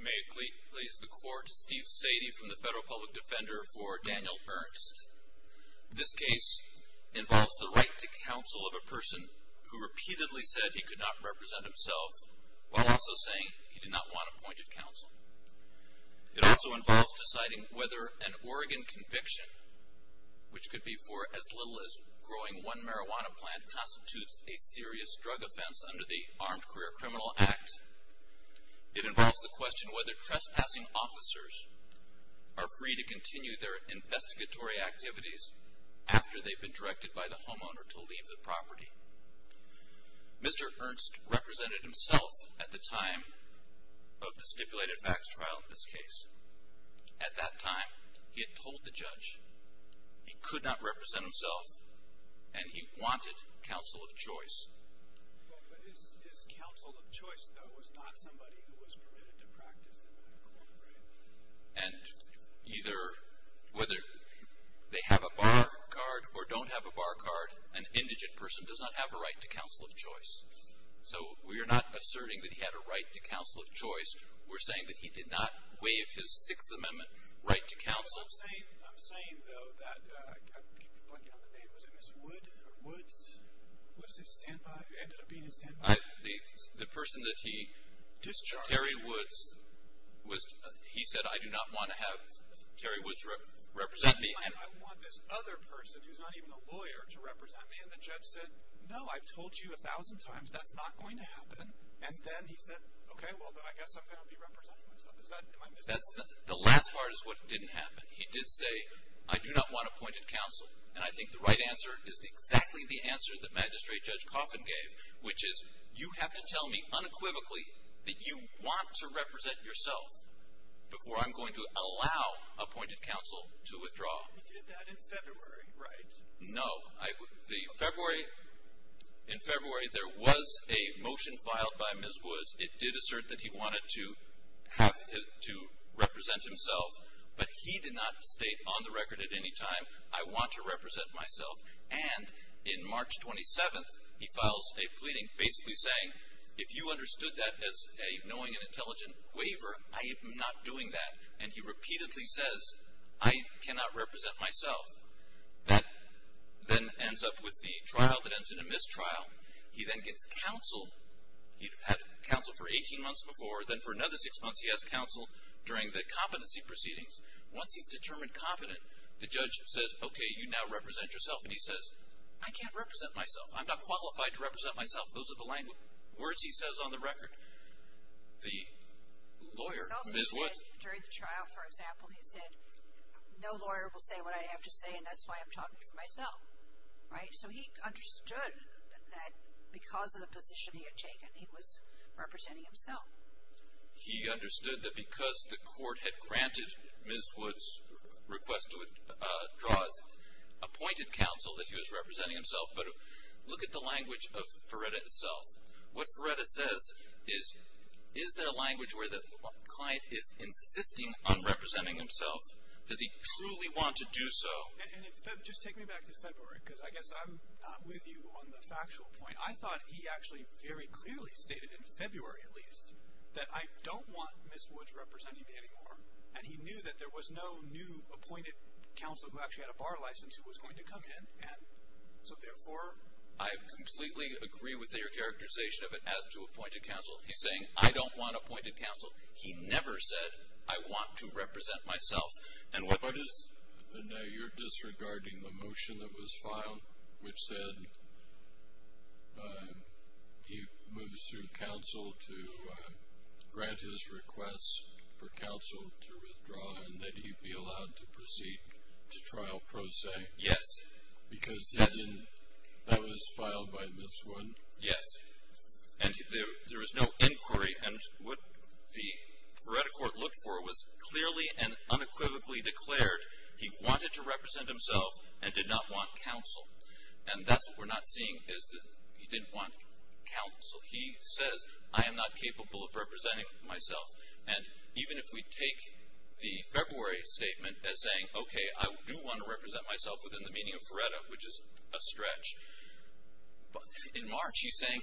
May it please the Court, Steve Sadie from the Federal Public Defender for Daniel Ernst. This case involves the right to counsel of a person who repeatedly said he could not represent himself, while also saying he did not want appointed counsel. It also involves deciding whether an Oregon conviction, which could be for as little as growing one marijuana plant, constitutes a serious drug offense under the Armed Career Criminal Act. It involves the question whether trespassing officers are free to continue their investigatory activities after they've been directed by the homeowner to leave the property. Mr. Ernst represented himself at the time of the stipulated facts trial in this case. At that time, he had told the judge he could not represent himself and he wanted counsel of choice. But his counsel of choice, though, was not somebody who was permitted to practice marijuana, right? And either whether they have a bar card or don't have a bar card, an indigent person does not have a right to counsel of choice. So we are not asserting that he had a right to counsel of choice. We're saying that he did not waive his Sixth Amendment right to counsel. Well, I'm saying, though, that I keep blanking on the name. Was it Ms. Wood? Was it Standby? It ended up being a Standby. The person that he, Terry Woods, he said, I do not want to have Terry Woods represent me. I want this other person who's not even a lawyer to represent me. And the judge said, no, I've told you a thousand times that's not going to happen. And then he said, okay, well, then I guess I'm going to be representing myself. The last part is what didn't happen. He did say, I do not want appointed counsel. And I think the right answer is exactly the answer that Magistrate Judge Coffin gave, which is you have to tell me unequivocally that you want to represent yourself before I'm going to allow appointed counsel to withdraw. He did that in February, right? No. In February, there was a motion filed by Ms. Woods. It did assert that he wanted to represent himself, but he did not state on the record at any time, I want to represent myself. And in March 27th, he files a pleading basically saying, if you understood that as a knowing and intelligent waiver, I am not doing that. And he repeatedly says, I cannot represent myself. That then ends up with the trial that ends in a mistrial. He then gets counsel. He had counsel for 18 months before. Then for another six months, he has counsel during the competency proceedings. Once he's determined competent, the judge says, okay, you now represent yourself. And he says, I can't represent myself. I'm not qualified to represent myself. Those are the words he says on the record. The lawyer, Ms. Woods. During the trial, for example, he said, no lawyer will say what I have to say, and that's why I'm talking for myself, right? So he understood that because of the position he had taken, he was representing himself. He understood that because the court had granted Ms. Woods' request to withdraw, appointed counsel that he was representing himself. But look at the language of Ferretta itself. What Ferretta says is, is there a language where the client is insisting on representing himself? Does he truly want to do so? And just take me back to February, because I guess I'm with you on the factual point. I thought he actually very clearly stated, in February at least, that I don't want Ms. Woods representing me anymore. And he knew that there was no new appointed counsel who actually had a bar license who was going to come in. And so, therefore, I completely agree with your characterization of it as to appointed counsel. He's saying, I don't want appointed counsel. He never said, I want to represent myself. And now you're disregarding the motion that was filed, which said he moves through counsel to grant his request for counsel to withdraw and that he be allowed to proceed to trial pro se. Yes. Because that was filed by Ms. Woods. Yes. And there was no inquiry. And what the Ferretta court looked for was clearly and unequivocally declared he wanted to represent himself and did not want counsel. And that's what we're not seeing is that he didn't want counsel. He says, I am not capable of representing myself. And even if we take the February statement as saying, okay, I do want to represent myself within the meaning of Ferretta, which is a stretch. In March, he's saying,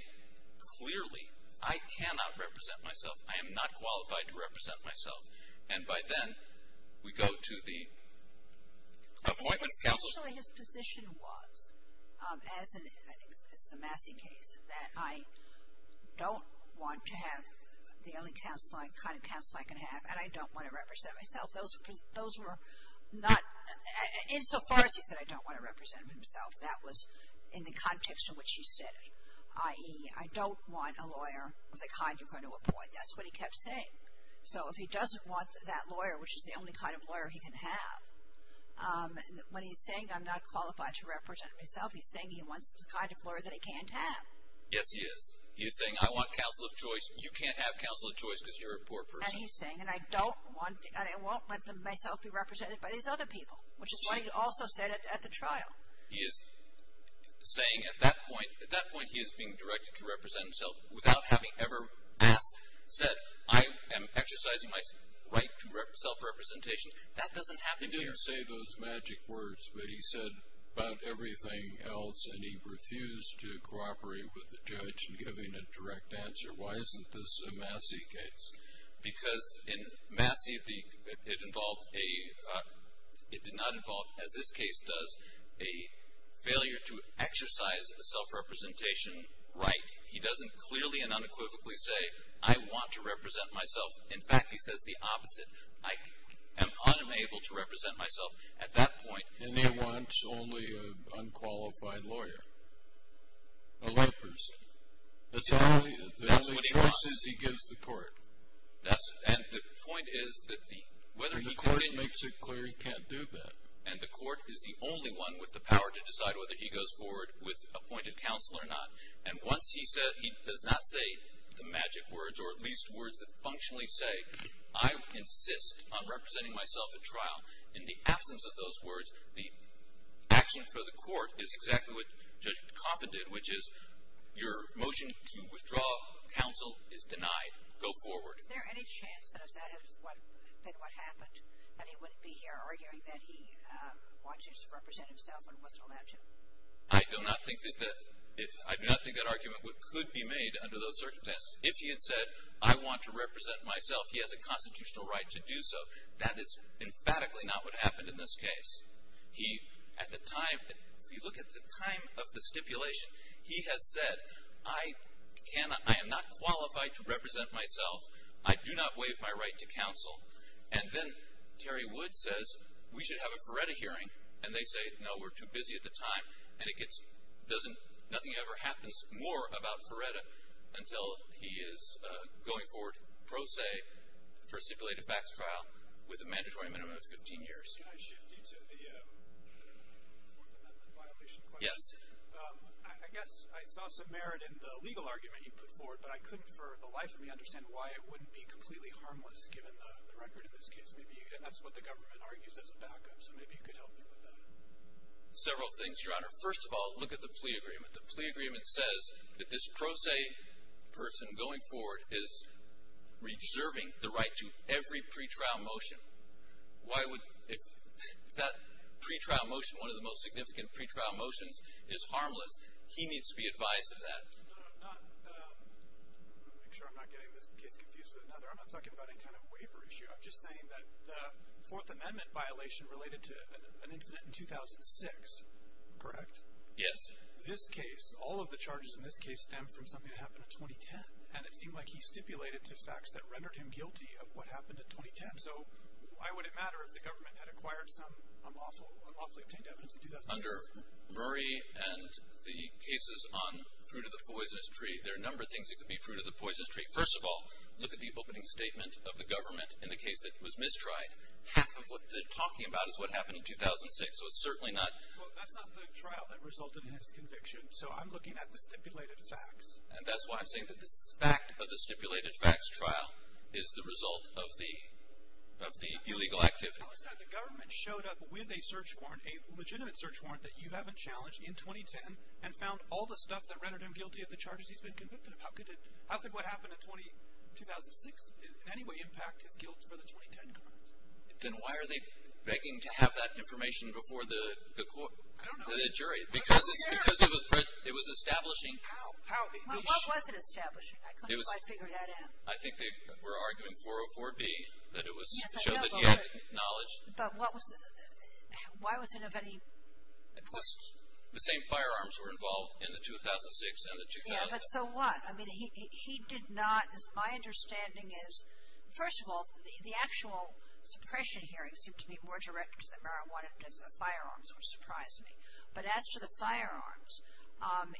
clearly, I cannot represent myself. I am not qualified to represent myself. And by then, we go to the appointment counsel. Essentially, his position was, as in the Massey case, that I don't want to have the only kind of counsel I can have, and I don't want to represent myself. Those were not, insofar as he said, I don't want to represent himself. That was in the context in which he said it. I.e., I don't want a lawyer of the kind you're going to appoint. That's what he kept saying. So if he doesn't want that lawyer, which is the only kind of lawyer he can have, when he's saying I'm not qualified to represent myself, he's saying he wants the kind of lawyer that he can't have. Yes, he is. He is saying, I want counsel of choice. You can't have counsel of choice because you're a poor person. And he's saying, and I don't want, and I won't let myself be represented by these other people, which is what he also said at the trial. He is saying at that point, at that point he is being directed to represent himself without having ever, as said, I am exercising my right to self-representation. That doesn't happen here. He didn't say those magic words, but he said about everything else, and he refused to cooperate with the judge in giving a direct answer. Why isn't this a Massey case? Because in Massey, it involved a, it did not involve, as this case does, a failure to exercise a self-representation right. He doesn't clearly and unequivocally say, I want to represent myself. In fact, he says the opposite. I am unable to represent myself. At that point. And he wants only an unqualified lawyer, a layperson. That's all he, the only choice is he gives the court. That's, and the point is that the, whether he continues. The court makes it clear he can't do that. And the court is the only one with the power to decide whether he goes forward with appointed counsel or not. And once he says, he does not say the magic words, or at least words that functionally say, I insist on representing myself at trial. In the absence of those words, the action for the court is exactly what Judge Coffin did, which is your motion to withdraw counsel is denied. Go forward. Is there any chance that that is what, that what happened, that he wouldn't be here arguing that he wanted to represent himself and wasn't allowed to? I do not think that that, I do not think that argument could be made under those circumstances. If he had said, I want to represent myself, he has a constitutional right to do so. That is emphatically not what happened in this case. He, at the time, if you look at the time of the stipulation, he has said, I cannot, I am not qualified to represent myself. I do not waive my right to counsel. And then Terry Wood says, we should have a Feretta hearing. And they say, no, we're too busy at the time. And it gets, doesn't, nothing ever happens more about Feretta until he is going forward, pro se, for a stipulated facts trial with a mandatory minimum of 15 years. Can I shift you to the fourth amendment violation question? Yes. I guess I saw some merit in the legal argument you put forward, but I couldn't for the life of me understand why it wouldn't be completely harmless given the record in this case. Maybe, and that's what the government argues as a backup, so maybe you could help me with that. Several things, Your Honor. First of all, look at the plea agreement. The plea agreement says that this pro se person going forward is reserving the right to every pretrial motion. Why would, if that pretrial motion, one of the most significant pretrial motions, is harmless, he needs to be advised of that. No, I'm not, I'm going to make sure I'm not getting this case confused with another. I'm not talking about any kind of waiver issue. I'm just saying that the fourth amendment violation related to an incident in 2006, correct? Yes. This case, all of the charges in this case stem from something that happened in 2010. And it seemed like he stipulated to facts that rendered him guilty of what happened in 2010. So why would it matter if the government had acquired some unlawfully obtained evidence in 2006? Under Murray and the cases on fruit of the poisonous tree, there are a number of things that could be fruit of the poisonous tree. First of all, look at the opening statement of the government in the case that was mistried. Half of what they're talking about is what happened in 2006, so it's certainly not. Well, that's not the trial that resulted in his conviction, so I'm looking at the stipulated facts. And that's why I'm saying that this fact of the stipulated facts trial is the result of the illegal activity. How is that the government showed up with a search warrant, a legitimate search warrant, that you haven't challenged in 2010 and found all the stuff that rendered him guilty of the charges he's been convicted of? How could what happened in 2006 in any way impact his guilt for the 2010 crimes? Then why are they begging to have that information before the jury? I don't know. Because it was establishing. Well, what was it establishing? I couldn't quite figure that out. I think they were arguing 404B, that it was to show that he had knowledge. But why was it of any importance? The same firearms were involved in the 2006 and the 2010. Yeah, but so what? I mean, he did not. My understanding is, first of all, the actual suppression hearings seem to be more direct because of the firearms, which surprised me. But as to the firearms,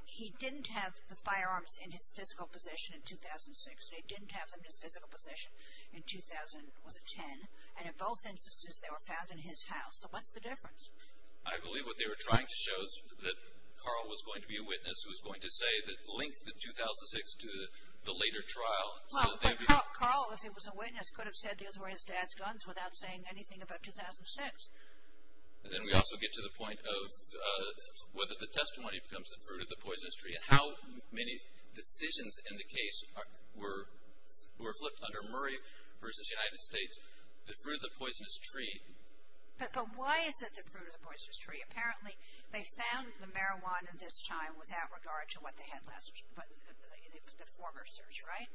he didn't have the firearms in his physical position in 2006. He didn't have them in his physical position in 2010. And in both instances, they were found in his house. So what's the difference? I believe what they were trying to show is that Carl was going to be a witness, who was going to link the 2006 to the later trial. Well, Carl, if he was a witness, could have said those were his dad's guns without saying anything about 2006. Then we also get to the point of whether the testimony becomes the fruit of the poisonous tree and how many decisions in the case were flipped under Murray versus United States, the fruit of the poisonous tree. But why is it the fruit of the poisonous tree? Apparently, they found the marijuana this time without regard to what they had last, the former search, right?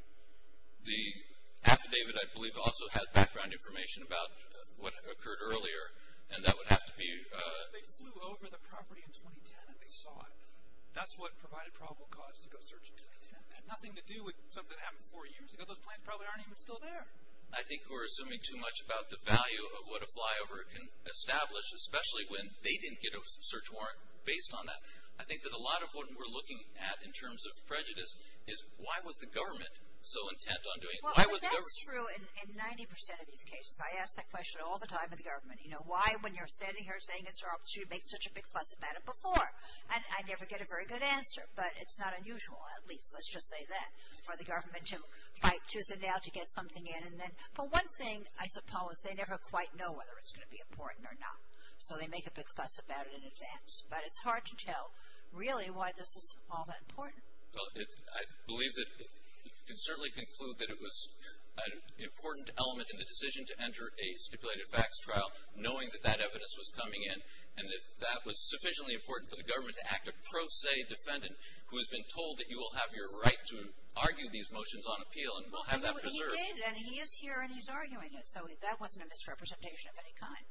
The affidavit, I believe, also had background information about what occurred earlier, and that would have to be... They flew over the property in 2010 and they saw it. That's what provided probable cause to go search in 2010. It had nothing to do with something that happened four years ago. Those plans probably aren't even still there. I think we're assuming too much about the value of what a flyover can establish, especially when they didn't get a search warrant based on that. I think that a lot of what we're looking at in terms of prejudice is, why was the government so intent on doing... Why was the government... Well, that's true in 90% of these cases. I ask that question all the time of the government. You know, why, when you're standing here saying it's our opportunity, make such a big fuss about it before? And I never get a very good answer, but it's not unusual, at least, let's just say that, for the government to fight tooth and nail to get something in. And then, for one thing, I suppose, they never quite know whether it's going to be important or not, so they make a big fuss about it in advance. But it's hard to tell, really, why this is all that important. Well, I believe that you can certainly conclude that it was an important element in the decision to enter a stipulated facts trial, knowing that that evidence was coming in, and that that was sufficiently important for the government to act a pro se defendant who has been told that you will have your right to argue these motions on appeal and will have that preserved. Well, he did, and he is here, and he's arguing it, so that wasn't a misrepresentation of any kind.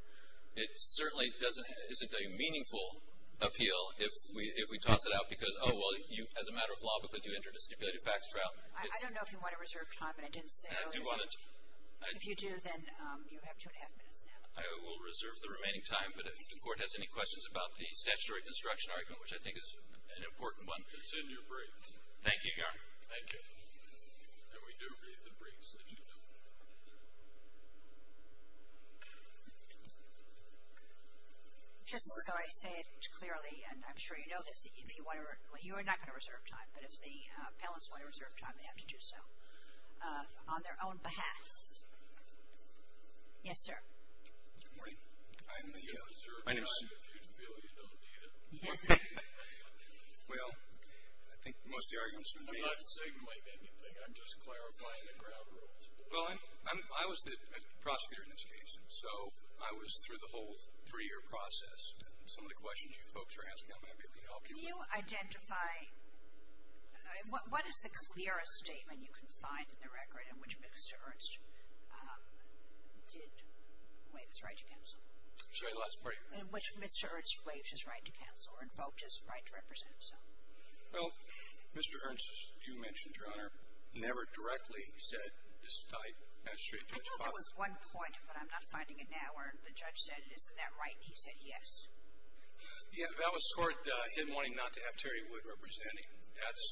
It certainly isn't a meaningful appeal if we toss it out because, oh, well, as a matter of law, because you entered a stipulated facts trial. I don't know if you want to reserve time, but I didn't say earlier. I do want to. If you do, then you have two and a half minutes now. I will reserve the remaining time, but if the court has any questions about the statutory construction argument, which I think is an important one. It's in your briefs. Thank you, Your Honor. Thank you. And we do read the briefs, as you know. Just so I say it clearly, and I'm sure you know this, if you want to, you are not going to reserve time, but if the appellants want to reserve time, they have to do so on their own behalf. Yes, sir. Good morning. I'm the... You're going to reserve time if you feel you don't need it. Well, I think most of the arguments would be... I'm not signaling anything. I'm just clarifying the ground rules. Well, I was the prosecutor in this case, and so I was through the whole three-year process, and some of the questions you folks are asking, I'm going to be able to help you with. Can you identify... What is the clearest statement you can find in the record in which Mr. Ernst did waive his right to counsel? I'll show you the last part. In which Mr. Ernst waived his right to counsel or invoked his right to represent himself. Well, Mr. Ernst, as you mentioned, Your Honor, never directly said, I know there was one point, but I'm not finding it now, where the judge said, Isn't that right? And he said, Yes. Yeah, that was toward him wanting not to have Terry Wood representing. That's...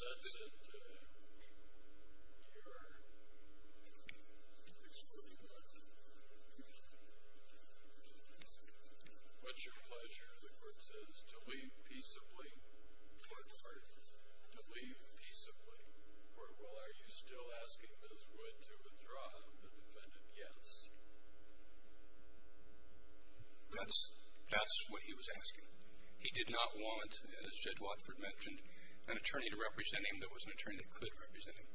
What's your pleasure, the court says, to leave peaceably... Pardon? To leave peaceably. Well, are you still asking Ms. Wood to withdraw the defendant? Yes. That's... That's what he was asking. He did not want, as Judge Watford mentioned, an attorney to represent him. There was an attorney that could represent him.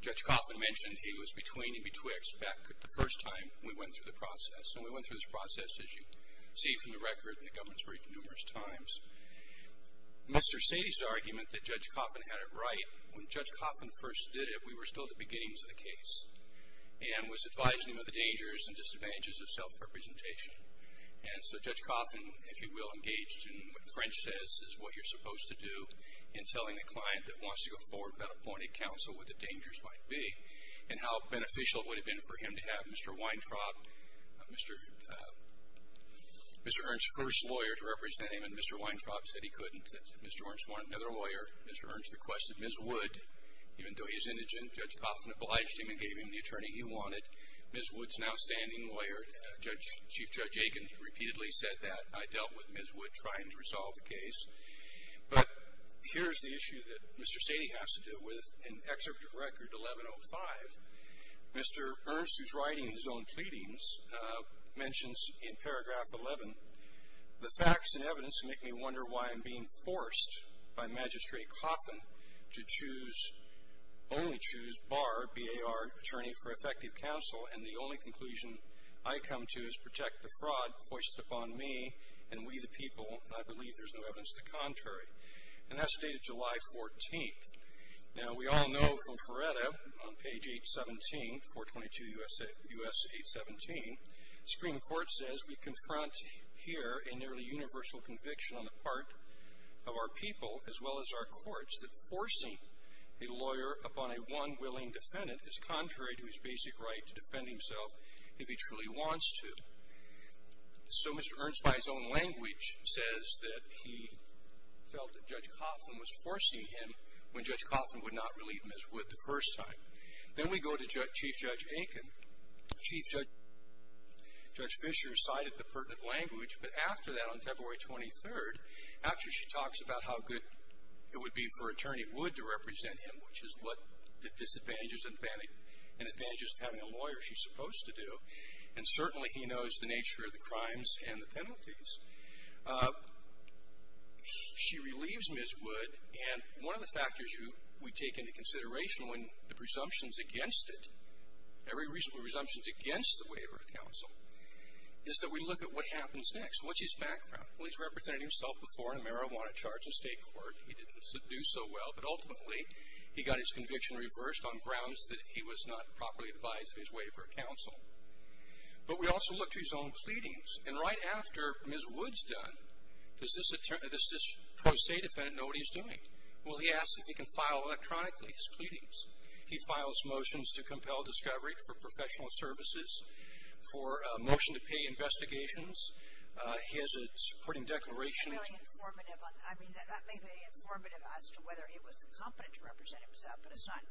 Judge Coffin mentioned he was between and betwixt back the first time we went through the process, and we went through this process, as you see from the record, and the government's briefed numerous times. Mr. Sady's argument that Judge Coffin had it right, when Judge Coffin first did it, we were still at the beginnings of the case, and was advising him of the dangers and disadvantages of self-representation. And so Judge Coffin, if you will, engaged in what French says is what you're supposed to do in telling the client that wants to go forward without appointed counsel what the dangers might be and how beneficial it would have been for him to have Mr. Weintraub, Mr.... Mr. Weintraub said he couldn't. Mr. Ernst wanted another lawyer. Mr. Ernst requested Ms. Wood. Even though he was indigent, Judge Coffin obliged him and gave him the attorney he wanted. Ms. Wood's an outstanding lawyer. Chief Judge Aiken repeatedly said that. I dealt with Ms. Wood trying to resolve the case. But here's the issue that Mr. Sady has to deal with in Excerpt of Record 1105. Mr. Ernst, who's writing his own pleadings, mentions in paragraph 11, the facts and evidence make me wonder why I'm being forced by Magistrate Coffin to only choose Barr, B-A-R, attorney for effective counsel, and the only conclusion I come to is protect the fraud foisted upon me and we the people, and I believe there's no evidence to the contrary. And that's dated July 14th. Now, we all know from Feretta on page 817, 422 U.S. 817, Supreme Court says we confront here a nearly universal conviction on the part of our people as well as our courts that forcing a lawyer upon a one willing defendant is contrary to his basic right to defend himself if he truly wants to. So Mr. Ernst, by his own language, says that he felt that Judge Coffin was forcing him when Judge Coffin would not relieve Ms. Wood the first time. Then we go to Chief Judge Aiken. Chief Judge Fischer cited the pertinent language, but after that on February 23rd, after she talks about how good it would be for Attorney Wood to represent him, which is what the disadvantages and advantages of having a lawyer she's supposed to do, and certainly he knows the nature of the crimes and the penalties, she relieves Ms. Wood, and one of the factors we take into consideration when the presumption is against it, every presumption is against the waiver of counsel, is that we look at what happens next. What's his background? Well, he's represented himself before in a marijuana charge in state court. He didn't do so well, but ultimately he got his conviction reversed on grounds that he was not properly advised of his waiver of counsel. But we also look to his own pleadings, and right after Ms. Wood's done, does this pro se defendant know what he's doing? Well, he asks if he can file electronically his pleadings. He files motions to compel discovery for professional services, for a motion to pay investigations. He has a supporting declaration. That may be informative as to whether he was competent to represent himself, but it's not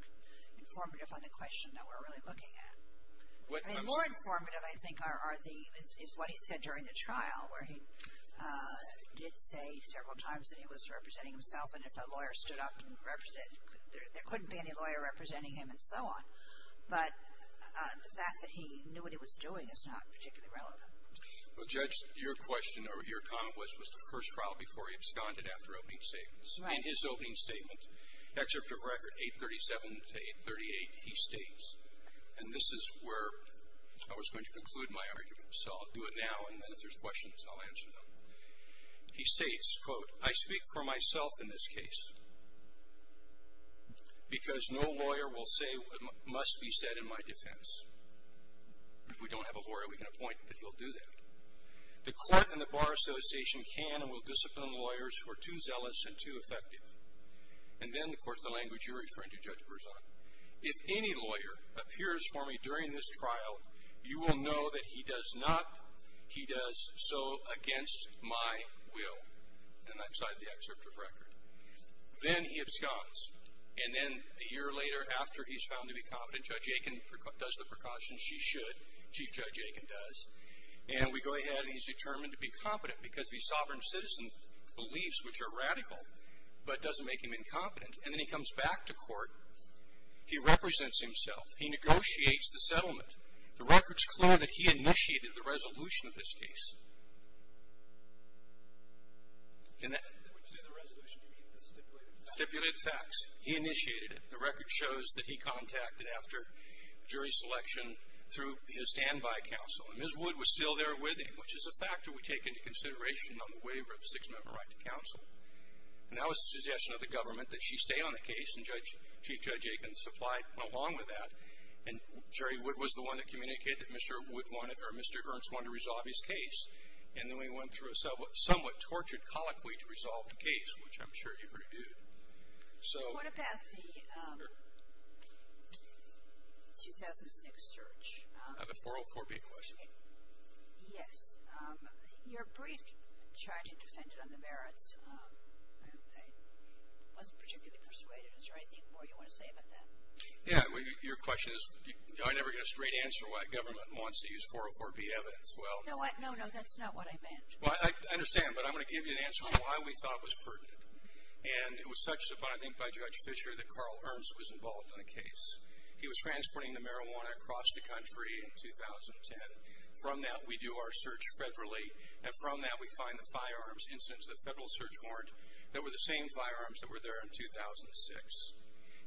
informative on the question that we're really looking at. More informative, I think, is what he said during the trial, where he did say several times that he was representing himself, and if a lawyer stood up and represented him, there couldn't be any lawyer representing him, and so on. But the fact that he knew what he was doing is not particularly relevant. Well, Judge, your question, or your comment was, was the first trial before he absconded after opening statements. In his opening statement, Excerpt of Record 837 to 838, he states, and this is where I was going to conclude my argument, so I'll do it now, and then if there's questions, I'll answer them. He states, quote, I speak for myself in this case, because no lawyer will say what must be said in my defense. If we don't have a lawyer, we can appoint, but he'll do that. The court and the Bar Association can and will discipline lawyers who are too zealous and too effective. And then, of course, the language you're referring to, Judge Berzon, if any lawyer appears for me during this trial, you will know that he does not, he does so against my will, and I've cited the excerpt of record. Then he absconds, and then a year later, after he's found to be competent, Judge Aiken does the precautions she should, Chief Judge Aiken does, and we go ahead and he's determined to be competent, because these sovereign citizen beliefs, which are radical, but doesn't make him incompetent. And then he comes back to court, he represents himself, he negotiates the settlement. The record's clear that he initiated the resolution of this case. In that. When you say the resolution, you mean the stipulated facts? Stipulated facts. He initiated it. The record shows that he contacted after jury selection through his standby counsel, and Ms. Wood was still there with him, which is a factor we take into consideration on the waiver of the six-member right to counsel. And that was the suggestion of the government, that she stay on the case, and Chief Judge Aiken supplied along with that, and Jury Wood was the one that communicated that Mr. Wood wanted, or Mr. Ernst wanted to resolve his case, and then we went through a somewhat tortured, colloquy to resolve the case, which I'm sure you heard it do. So. What about the 2006 search? The 404B question. Yes. Your brief tried to defend it on the merits. It wasn't particularly persuaded. Is there anything more you want to say about that? Yeah. Your question is, I never get a straight answer why government wants to use 404B evidence. Well. No, no, that's not what I meant. Well, I understand, but I'm going to give you an answer on why we thought it was pertinent. And it was such, I think, by Judge Fischer that Carl Ernst was involved in the case. He was transporting the marijuana across the country in 2010. From that, we do our search federally, and from that we find the firearms incidents of the federal search warrant that were the same firearms that were there in 2006.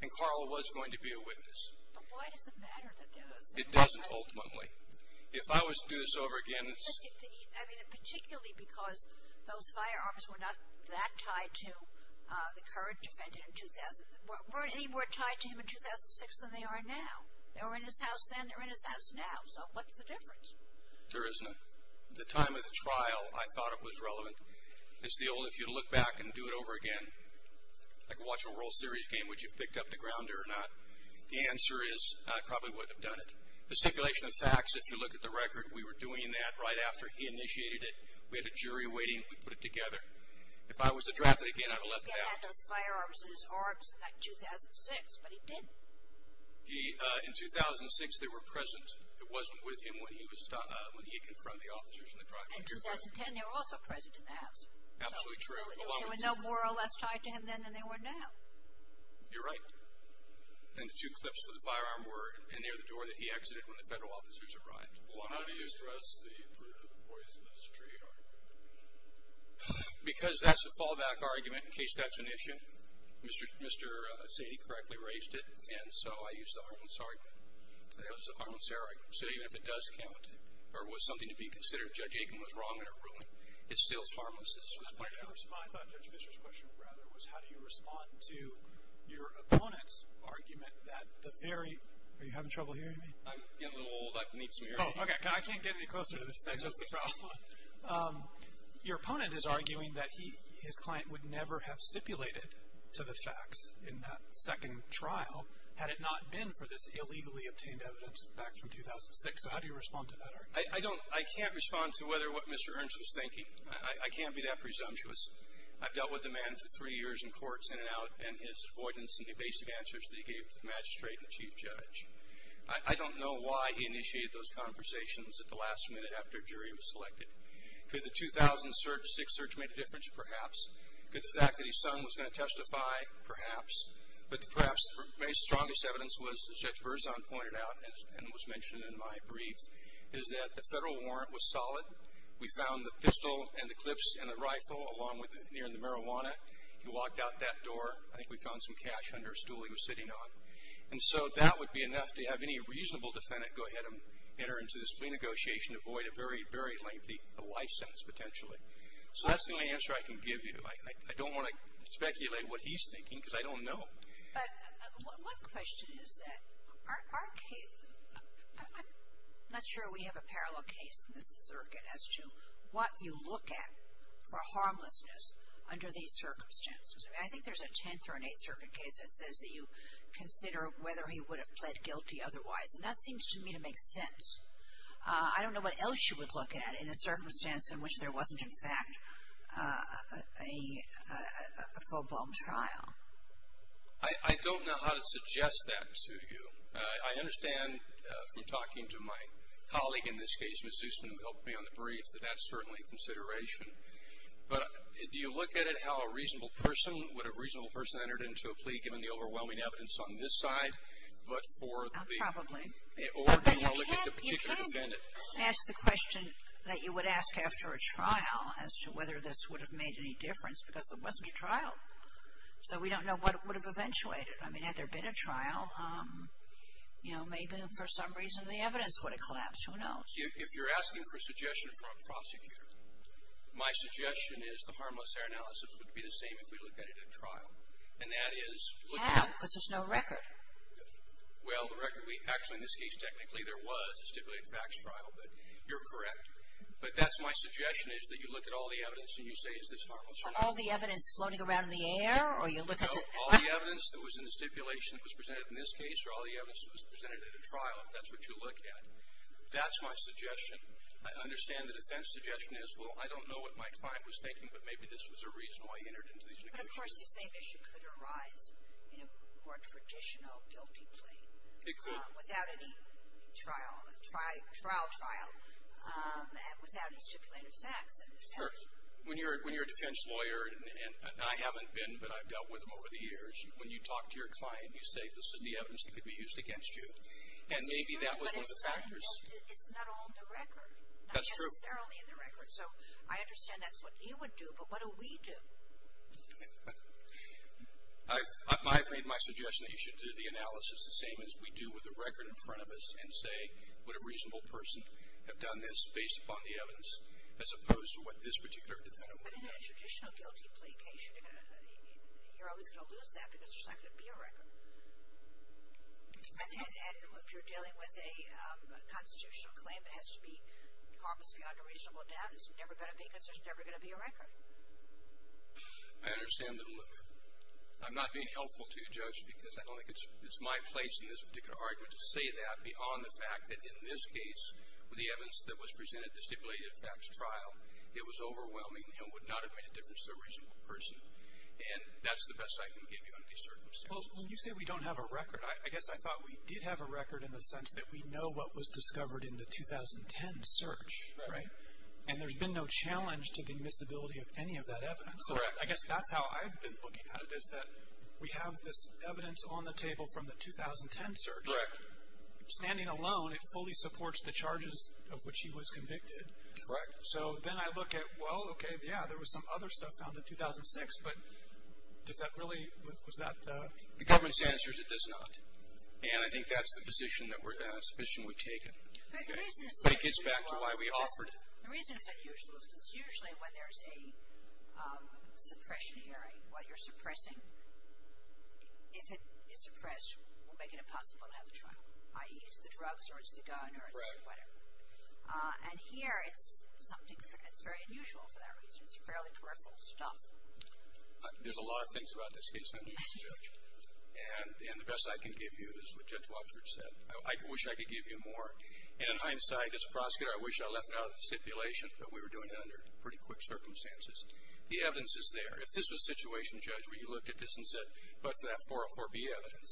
And Carl was going to be a witness. But why does it matter that there was. It doesn't, ultimately. If I was to do this over again. I mean, particularly because those firearms were not that tied to the Kurd defended in 2000, weren't any more tied to him in 2006 than they are now. They were in his house then. They're in his house now. So what's the difference? There isn't. At the time of the trial, I thought it was relevant. It's the only, if you look back and do it over again, like watching a World Series game, would you have picked up the grounder or not? The answer is, I probably wouldn't have done it. The stipulation of facts, if you look at the record, we were doing that right after he initiated it. We had a jury waiting. We put it together. If I was to draft it again, I would have left it out. He had those firearms in his arms in 2006, but he didn't. In 2006, they were present. It wasn't with him when he confronted the officers in the trial. In 2010, they were also present in the house. Absolutely true. They were no more or less tied to him then than they were now. You're right. And the two clips for the firearm were near the door that he exited when the federal officers arrived. Well, how do you address the fruit of the poisonous tree argument? Because that's a fallback argument. In case that's an issue, Mr. Sadie correctly raised it, and so I used the harmless argument. That was the harmless argument. So even if it does count or was something to be considered, Judge Aiken was wrong in her ruling, it still is harmless. I thought Judge Fischer's question, rather, was how do you respond to your opponent's argument that the very Are you having trouble hearing me? I'm getting a little old. I need some air. Oh, okay. I can't get any closer to this thing. That's just the problem. Your opponent is arguing that his client would never have stipulated to the facts in that second trial, had it not been for this illegally obtained evidence back from 2006. So how do you respond to that argument? I can't respond to what Mr. Ernst was thinking. I can't be that presumptuous. I've dealt with the man for three years in court, in and out, and his avoidance in the basic answers that he gave to the magistrate and the chief judge. I don't know why he initiated those conversations at the last minute after a jury was selected. Could the 2006 search make a difference? Perhaps. Could the fact that his son was going to testify? Perhaps. But perhaps the strongest evidence was, as Judge Berzon pointed out and was mentioned in my brief, is that the Federal warrant was solid. We found the pistol and the clips and the rifle along with the marijuana. He walked out that door. I think we found some cash under a stool he was sitting on. And so that would be enough to have any reasonable defendant go ahead and enter into this plea negotiation to avoid a very, very lengthy life sentence, potentially. So that's the only answer I can give you. I don't want to speculate what he's thinking, because I don't know. But one question is that our case, I'm not sure we have a parallel case in this circuit as to what you look at for harmlessness under these circumstances. I think there's a 10th or an 8th Circuit case that says that you consider whether he would have pled guilty otherwise, and that seems to me to make sense. I don't know what else you would look at in a circumstance in which there wasn't, in fact, a full-blown trial. I don't know how to suggest that to you. I understand from talking to my colleague in this case, Ms. Zusman, who helped me on the brief, that that's certainly a consideration. But do you look at it how a reasonable person, would a reasonable person enter into a plea, given the overwhelming evidence on this side, but for the. Probably. Or do you want to look at the particular defendant. Ask the question that you would ask after a trial as to whether this would have made any difference, because there wasn't a trial. So we don't know what would have eventuated. I mean, had there been a trial, you know, maybe for some reason the evidence would have collapsed. Who knows? If you're asking for a suggestion from a prosecutor, my suggestion is the harmless error analysis would be the same if we looked at it at trial. And that is. How? Because there's no record. Well, the record would be. Actually, in this case, technically there was a stipulated facts trial, but you're correct. But that's my suggestion, is that you look at all the evidence and you say, is this harmless or not. All the evidence floating around in the air, or you look at the. No, all the evidence that was in the stipulation that was presented in this case, or all the evidence that was presented at a trial, if that's what you look at. That's my suggestion. I understand the defense suggestion is, well, I don't know what my client was thinking, but maybe this was a reason why he entered into these negotiations. But, of course, the same issue could arise in a more traditional guilty plea. It could. Without any trial, trial trial, without any stipulated facts. Sure. When you're a defense lawyer, and I haven't been, but I've dealt with them over the years, when you talk to your client, you say this is the evidence that could be used against you. And maybe that was one of the factors. It's not on the record. That's true. Not necessarily in the record. So I understand that's what he would do, but what do we do? I've made my suggestion that you should do the analysis, the same as we do with the record in front of us, and say, would a reasonable person have done this based upon the evidence, as opposed to what this particular defendant would have done? But in a traditional guilty plea case, you're always going to lose that, because there's not going to be a record. And if you're dealing with a constitutional claim, it has to be harmless beyond a reasonable doubt, because there's never going to be a record. I understand that a little bit. I'm not being helpful to you, Judge, because I don't think it's my place in this particular argument to say that, beyond the fact that in this case, with the evidence that was presented at the stipulated facts trial, it was overwhelming and would not have made a difference to a reasonable person. And that's the best I can give you in these circumstances. Well, when you say we don't have a record, I guess I thought we did have a record in the sense that we know what was discovered in the 2010 search, right? And there's been no challenge to the admissibility of any of that evidence. Correct. So I guess that's how I've been looking at it, is that we have this evidence on the table from the 2010 search. Correct. Standing alone, it fully supports the charges of which he was convicted. Correct. So then I look at, well, okay, yeah, there was some other stuff found in 2006, but does that really – was that – The government's answer is it does not. And I think that's the position we've taken. Okay. But it gets back to why we offered it. The reason it's unusual is because usually when there's a suppression hearing, what you're suppressing, if it is suppressed, we'll make it impossible to have the trial, i.e., it's the drugs or it's the gun or it's whatever. Right. And here it's something that's very unusual for that reason. It's fairly peripheral stuff. There's a lot of things about this case I can use, Judge. And the best I can give you is what Judge Wapsford said. I wish I could give you more. And in hindsight, as a prosecutor, I wish I left it out of the stipulation that we were doing it under pretty quick circumstances. The evidence is there. If this was a situation, Judge, where you looked at this and said, but that 404B evidence,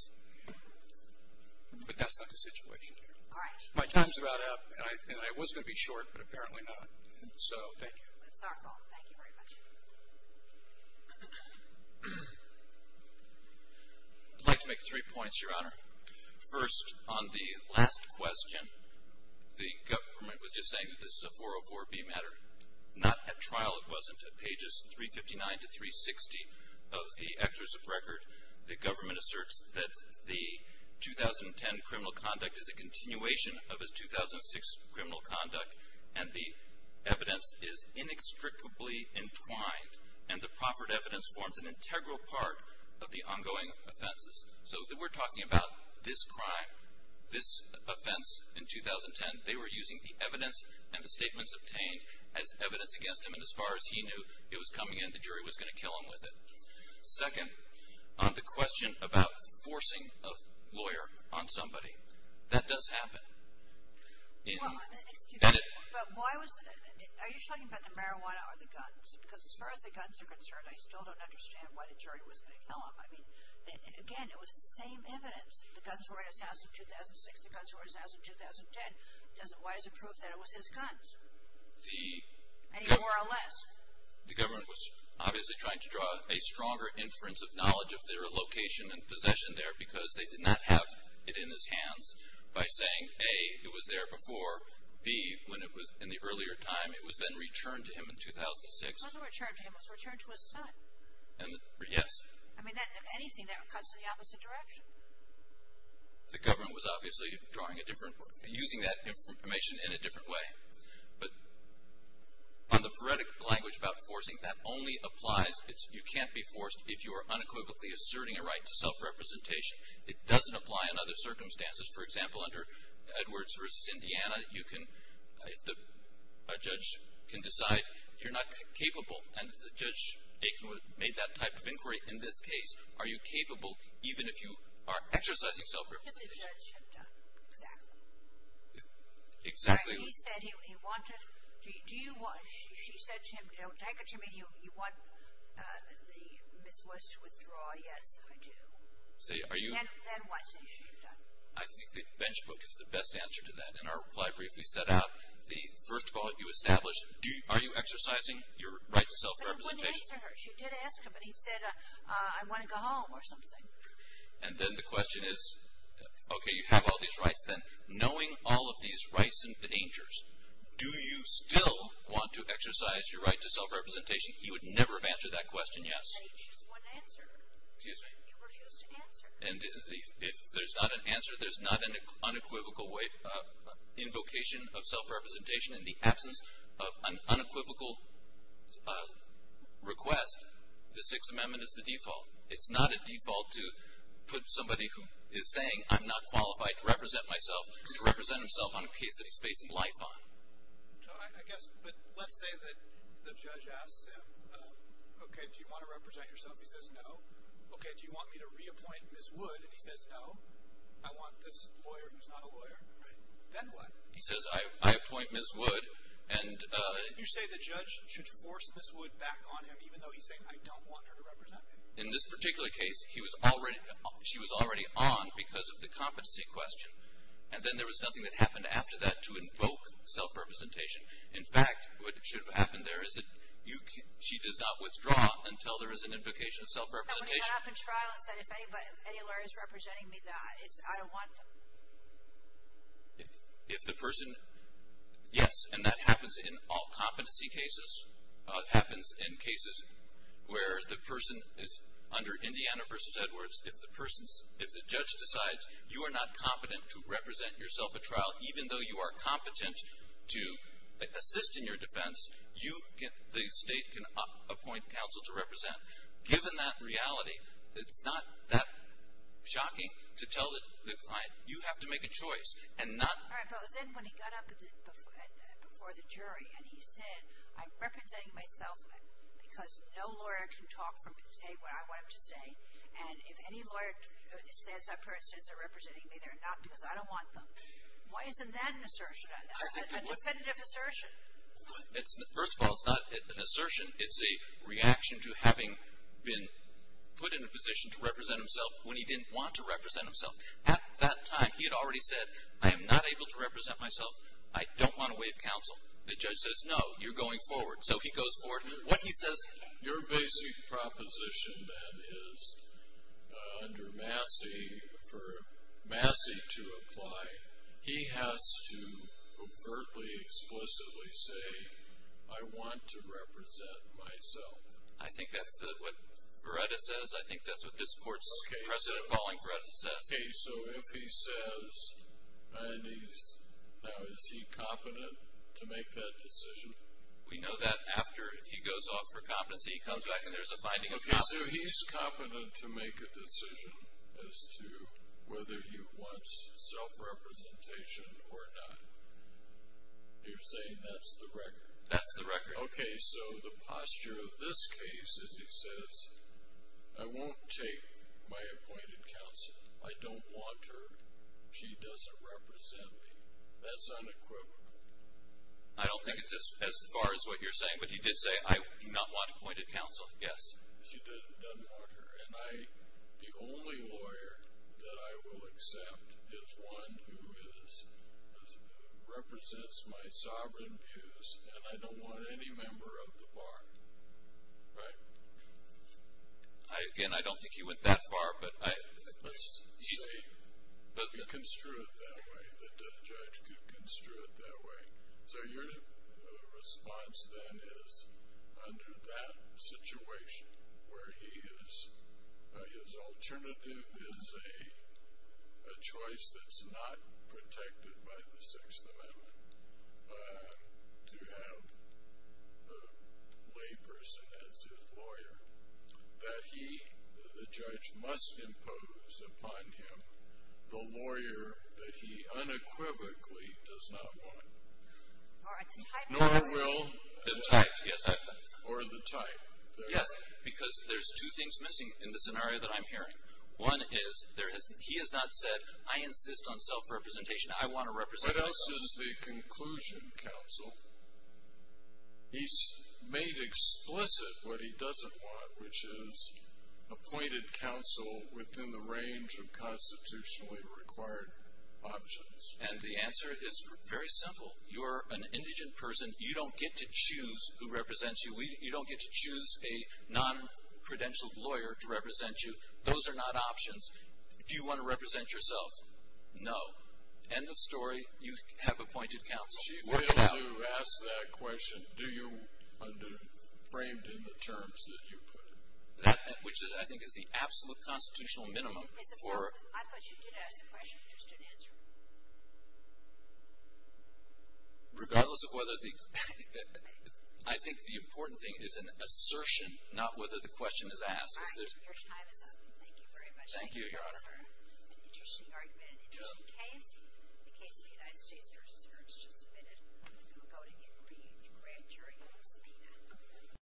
but that's not the situation here. All right. My time's about up, and I was going to be short, but apparently not. So thank you. That's our fault. Thank you very much. I'd like to make three points, Your Honor. First, on the last question, the government was just saying that this is a 404B matter. Not at trial it wasn't. At pages 359 to 360 of the excerpts of record, the government asserts that the 2010 criminal conduct is a continuation of its 2006 criminal conduct, and the evidence is inextricably entwined, and the proffered evidence forms an integral part of the ongoing offenses. So we're talking about this crime, this offense in 2010. They were using the evidence and the statements obtained as evidence against him, and as far as he knew, it was coming in. The jury was going to kill him with it. Second, on the question about forcing a lawyer on somebody, that does happen. Well, excuse me, but why was that? Are you talking about the marijuana or the guns? Because as far as the guns are concerned, I still don't understand why the jury was going to kill him. I mean, again, it was the same evidence. The guns were at his house in 2006. The guns were at his house in 2010. Why doesn't it prove that it was his guns? Any more or less. The government was obviously trying to draw a stronger inference of knowledge of their location and possession there because they did not have it in his hands by saying, A, it was there before, B, when it was in the earlier time, it was then returned to him in 2006. It wasn't returned to him. It was returned to his son. Yes. I mean, anything that cuts in the opposite direction. The government was obviously drawing a different, using that information in a different way. But on the phoretic language about forcing, that only applies, you can't be forced if you are unequivocally asserting a right to self-representation. It doesn't apply in other circumstances. For example, under Edwards v. Indiana, you can, a judge can decide you're not capable, and Judge Aikenwood made that type of inquiry. In this case, are you capable even if you are exercising self-representation? Because the judge had done, exactly. Exactly. He said he wanted, do you want, she said to him, don't take it to me you want the Miss Worst to withdraw. Yes, I do. Say, are you. Then what? I think the bench book is the best answer to that. In our reply brief, we set out the, first of all, you establish, are you exercising your right to self-representation? But he wouldn't answer her. She did ask him, but he said, I want to go home or something. And then the question is, okay, you have all these rights, then, knowing all of these rights and dangers, do you still want to exercise your right to self-representation? He would never have answered that question yes. And he just wouldn't answer her. Excuse me. He refused to answer her. And if there's not an answer, there's not an unequivocal invocation of self-representation. In the absence of an unequivocal request, the Sixth Amendment is the default. It's not a default to put somebody who is saying I'm not qualified to represent myself, to represent himself on a case that he's basing life on. I guess, but let's say that the judge asks him, okay, do you want to represent yourself? He says no. Okay. Do you want me to reappoint Ms. Wood? And he says no. I want this lawyer who's not a lawyer. Right. Then what? He says, I appoint Ms. Wood. You say the judge should force Ms. Wood back on him even though he's saying I don't want her to represent me. In this particular case, she was already on because of the competency question. And then there was nothing that happened after that to invoke self-representation. In fact, what should have happened there is that she does not withdraw until there is an invocation of self-representation. When he got up in trial and said if any lawyer is representing me, I don't want them. If the person, yes, and that happens in all competency cases. It happens in cases where the person is under Indiana v. Edwards. If the person's, if the judge decides you are not competent to represent yourself at trial, even though you are competent to assist in your defense, you can, the state can appoint counsel to represent. Given that reality, it's not that shocking to tell the client you have to make a choice and not. All right. But then when he got up before the jury and he said I'm representing myself because no lawyer can talk or say what I want him to say. And if any lawyer stands up here and says they're representing me, they're not because I don't want them. Why isn't that an assertion? That's a definitive assertion. First of all, it's not an assertion. It's a reaction to having been put in a position to represent himself when he didn't want to represent himself. At that time, he had already said I am not able to represent myself. I don't want to waive counsel. The judge says no, you're going forward. So he goes forward. What he says. Your basic proposition then is under Massey, for Massey to apply, he has to overtly, explicitly say I want to represent myself. I think that's what Verretta says. I think that's what this court's precedent-following Verretta says. Okay. So if he says and he's, now is he competent to make that decision? We know that after he goes off for competency, he comes back and there's a finding of competence. Okay. So he's competent to make a decision as to whether he wants self-representation or not. You're saying that's the record? That's the record. Okay. So the posture of this case is he says I won't take my appointed counsel. I don't want her. She doesn't represent me. That's unequivocal. I don't think it's as far as what you're saying. But he did say I do not want appointed counsel. Yes. She doesn't want her. And the only lawyer that I will accept is one who represents my sovereign views, and I don't want any member of the bar. Right? Again, I don't think he went that far. You can construe it that way. The judge could construe it that way. So your response then is under that situation where he is, his alternative is a choice that's not protected by the Sixth Amendment to have a lay person as his lawyer, that he, the judge, must impose upon him the lawyer that he unequivocally does not want. Nor will the type. Yes, because there's two things missing in the scenario that I'm hearing. One is he has not said I insist on self-representation. I want to represent myself. What else is the conclusion, counsel? He's made explicit what he doesn't want, which is appointed counsel within the range of constitutionally required options. And the answer is very simple. You're an indigent person. You don't get to choose who represents you. You don't get to choose a non-credentialed lawyer to represent you. Those are not options. Do you want to represent yourself? No. End of story. You have appointed counsel. She failed to ask that question. Do you, framed in the terms that you put. Which I think is the absolute constitutional minimum. I thought you did ask the question, just didn't answer it. Regardless of whether the, I think the important thing is an assertion, not whether the question is asked. Your time is up. Thank you very much. Thank you, Your Honor. An additional argument, an additional case. The case of the United States v. Hearst just submitted. We'll do a vote again for you to grant your appeal subpoena.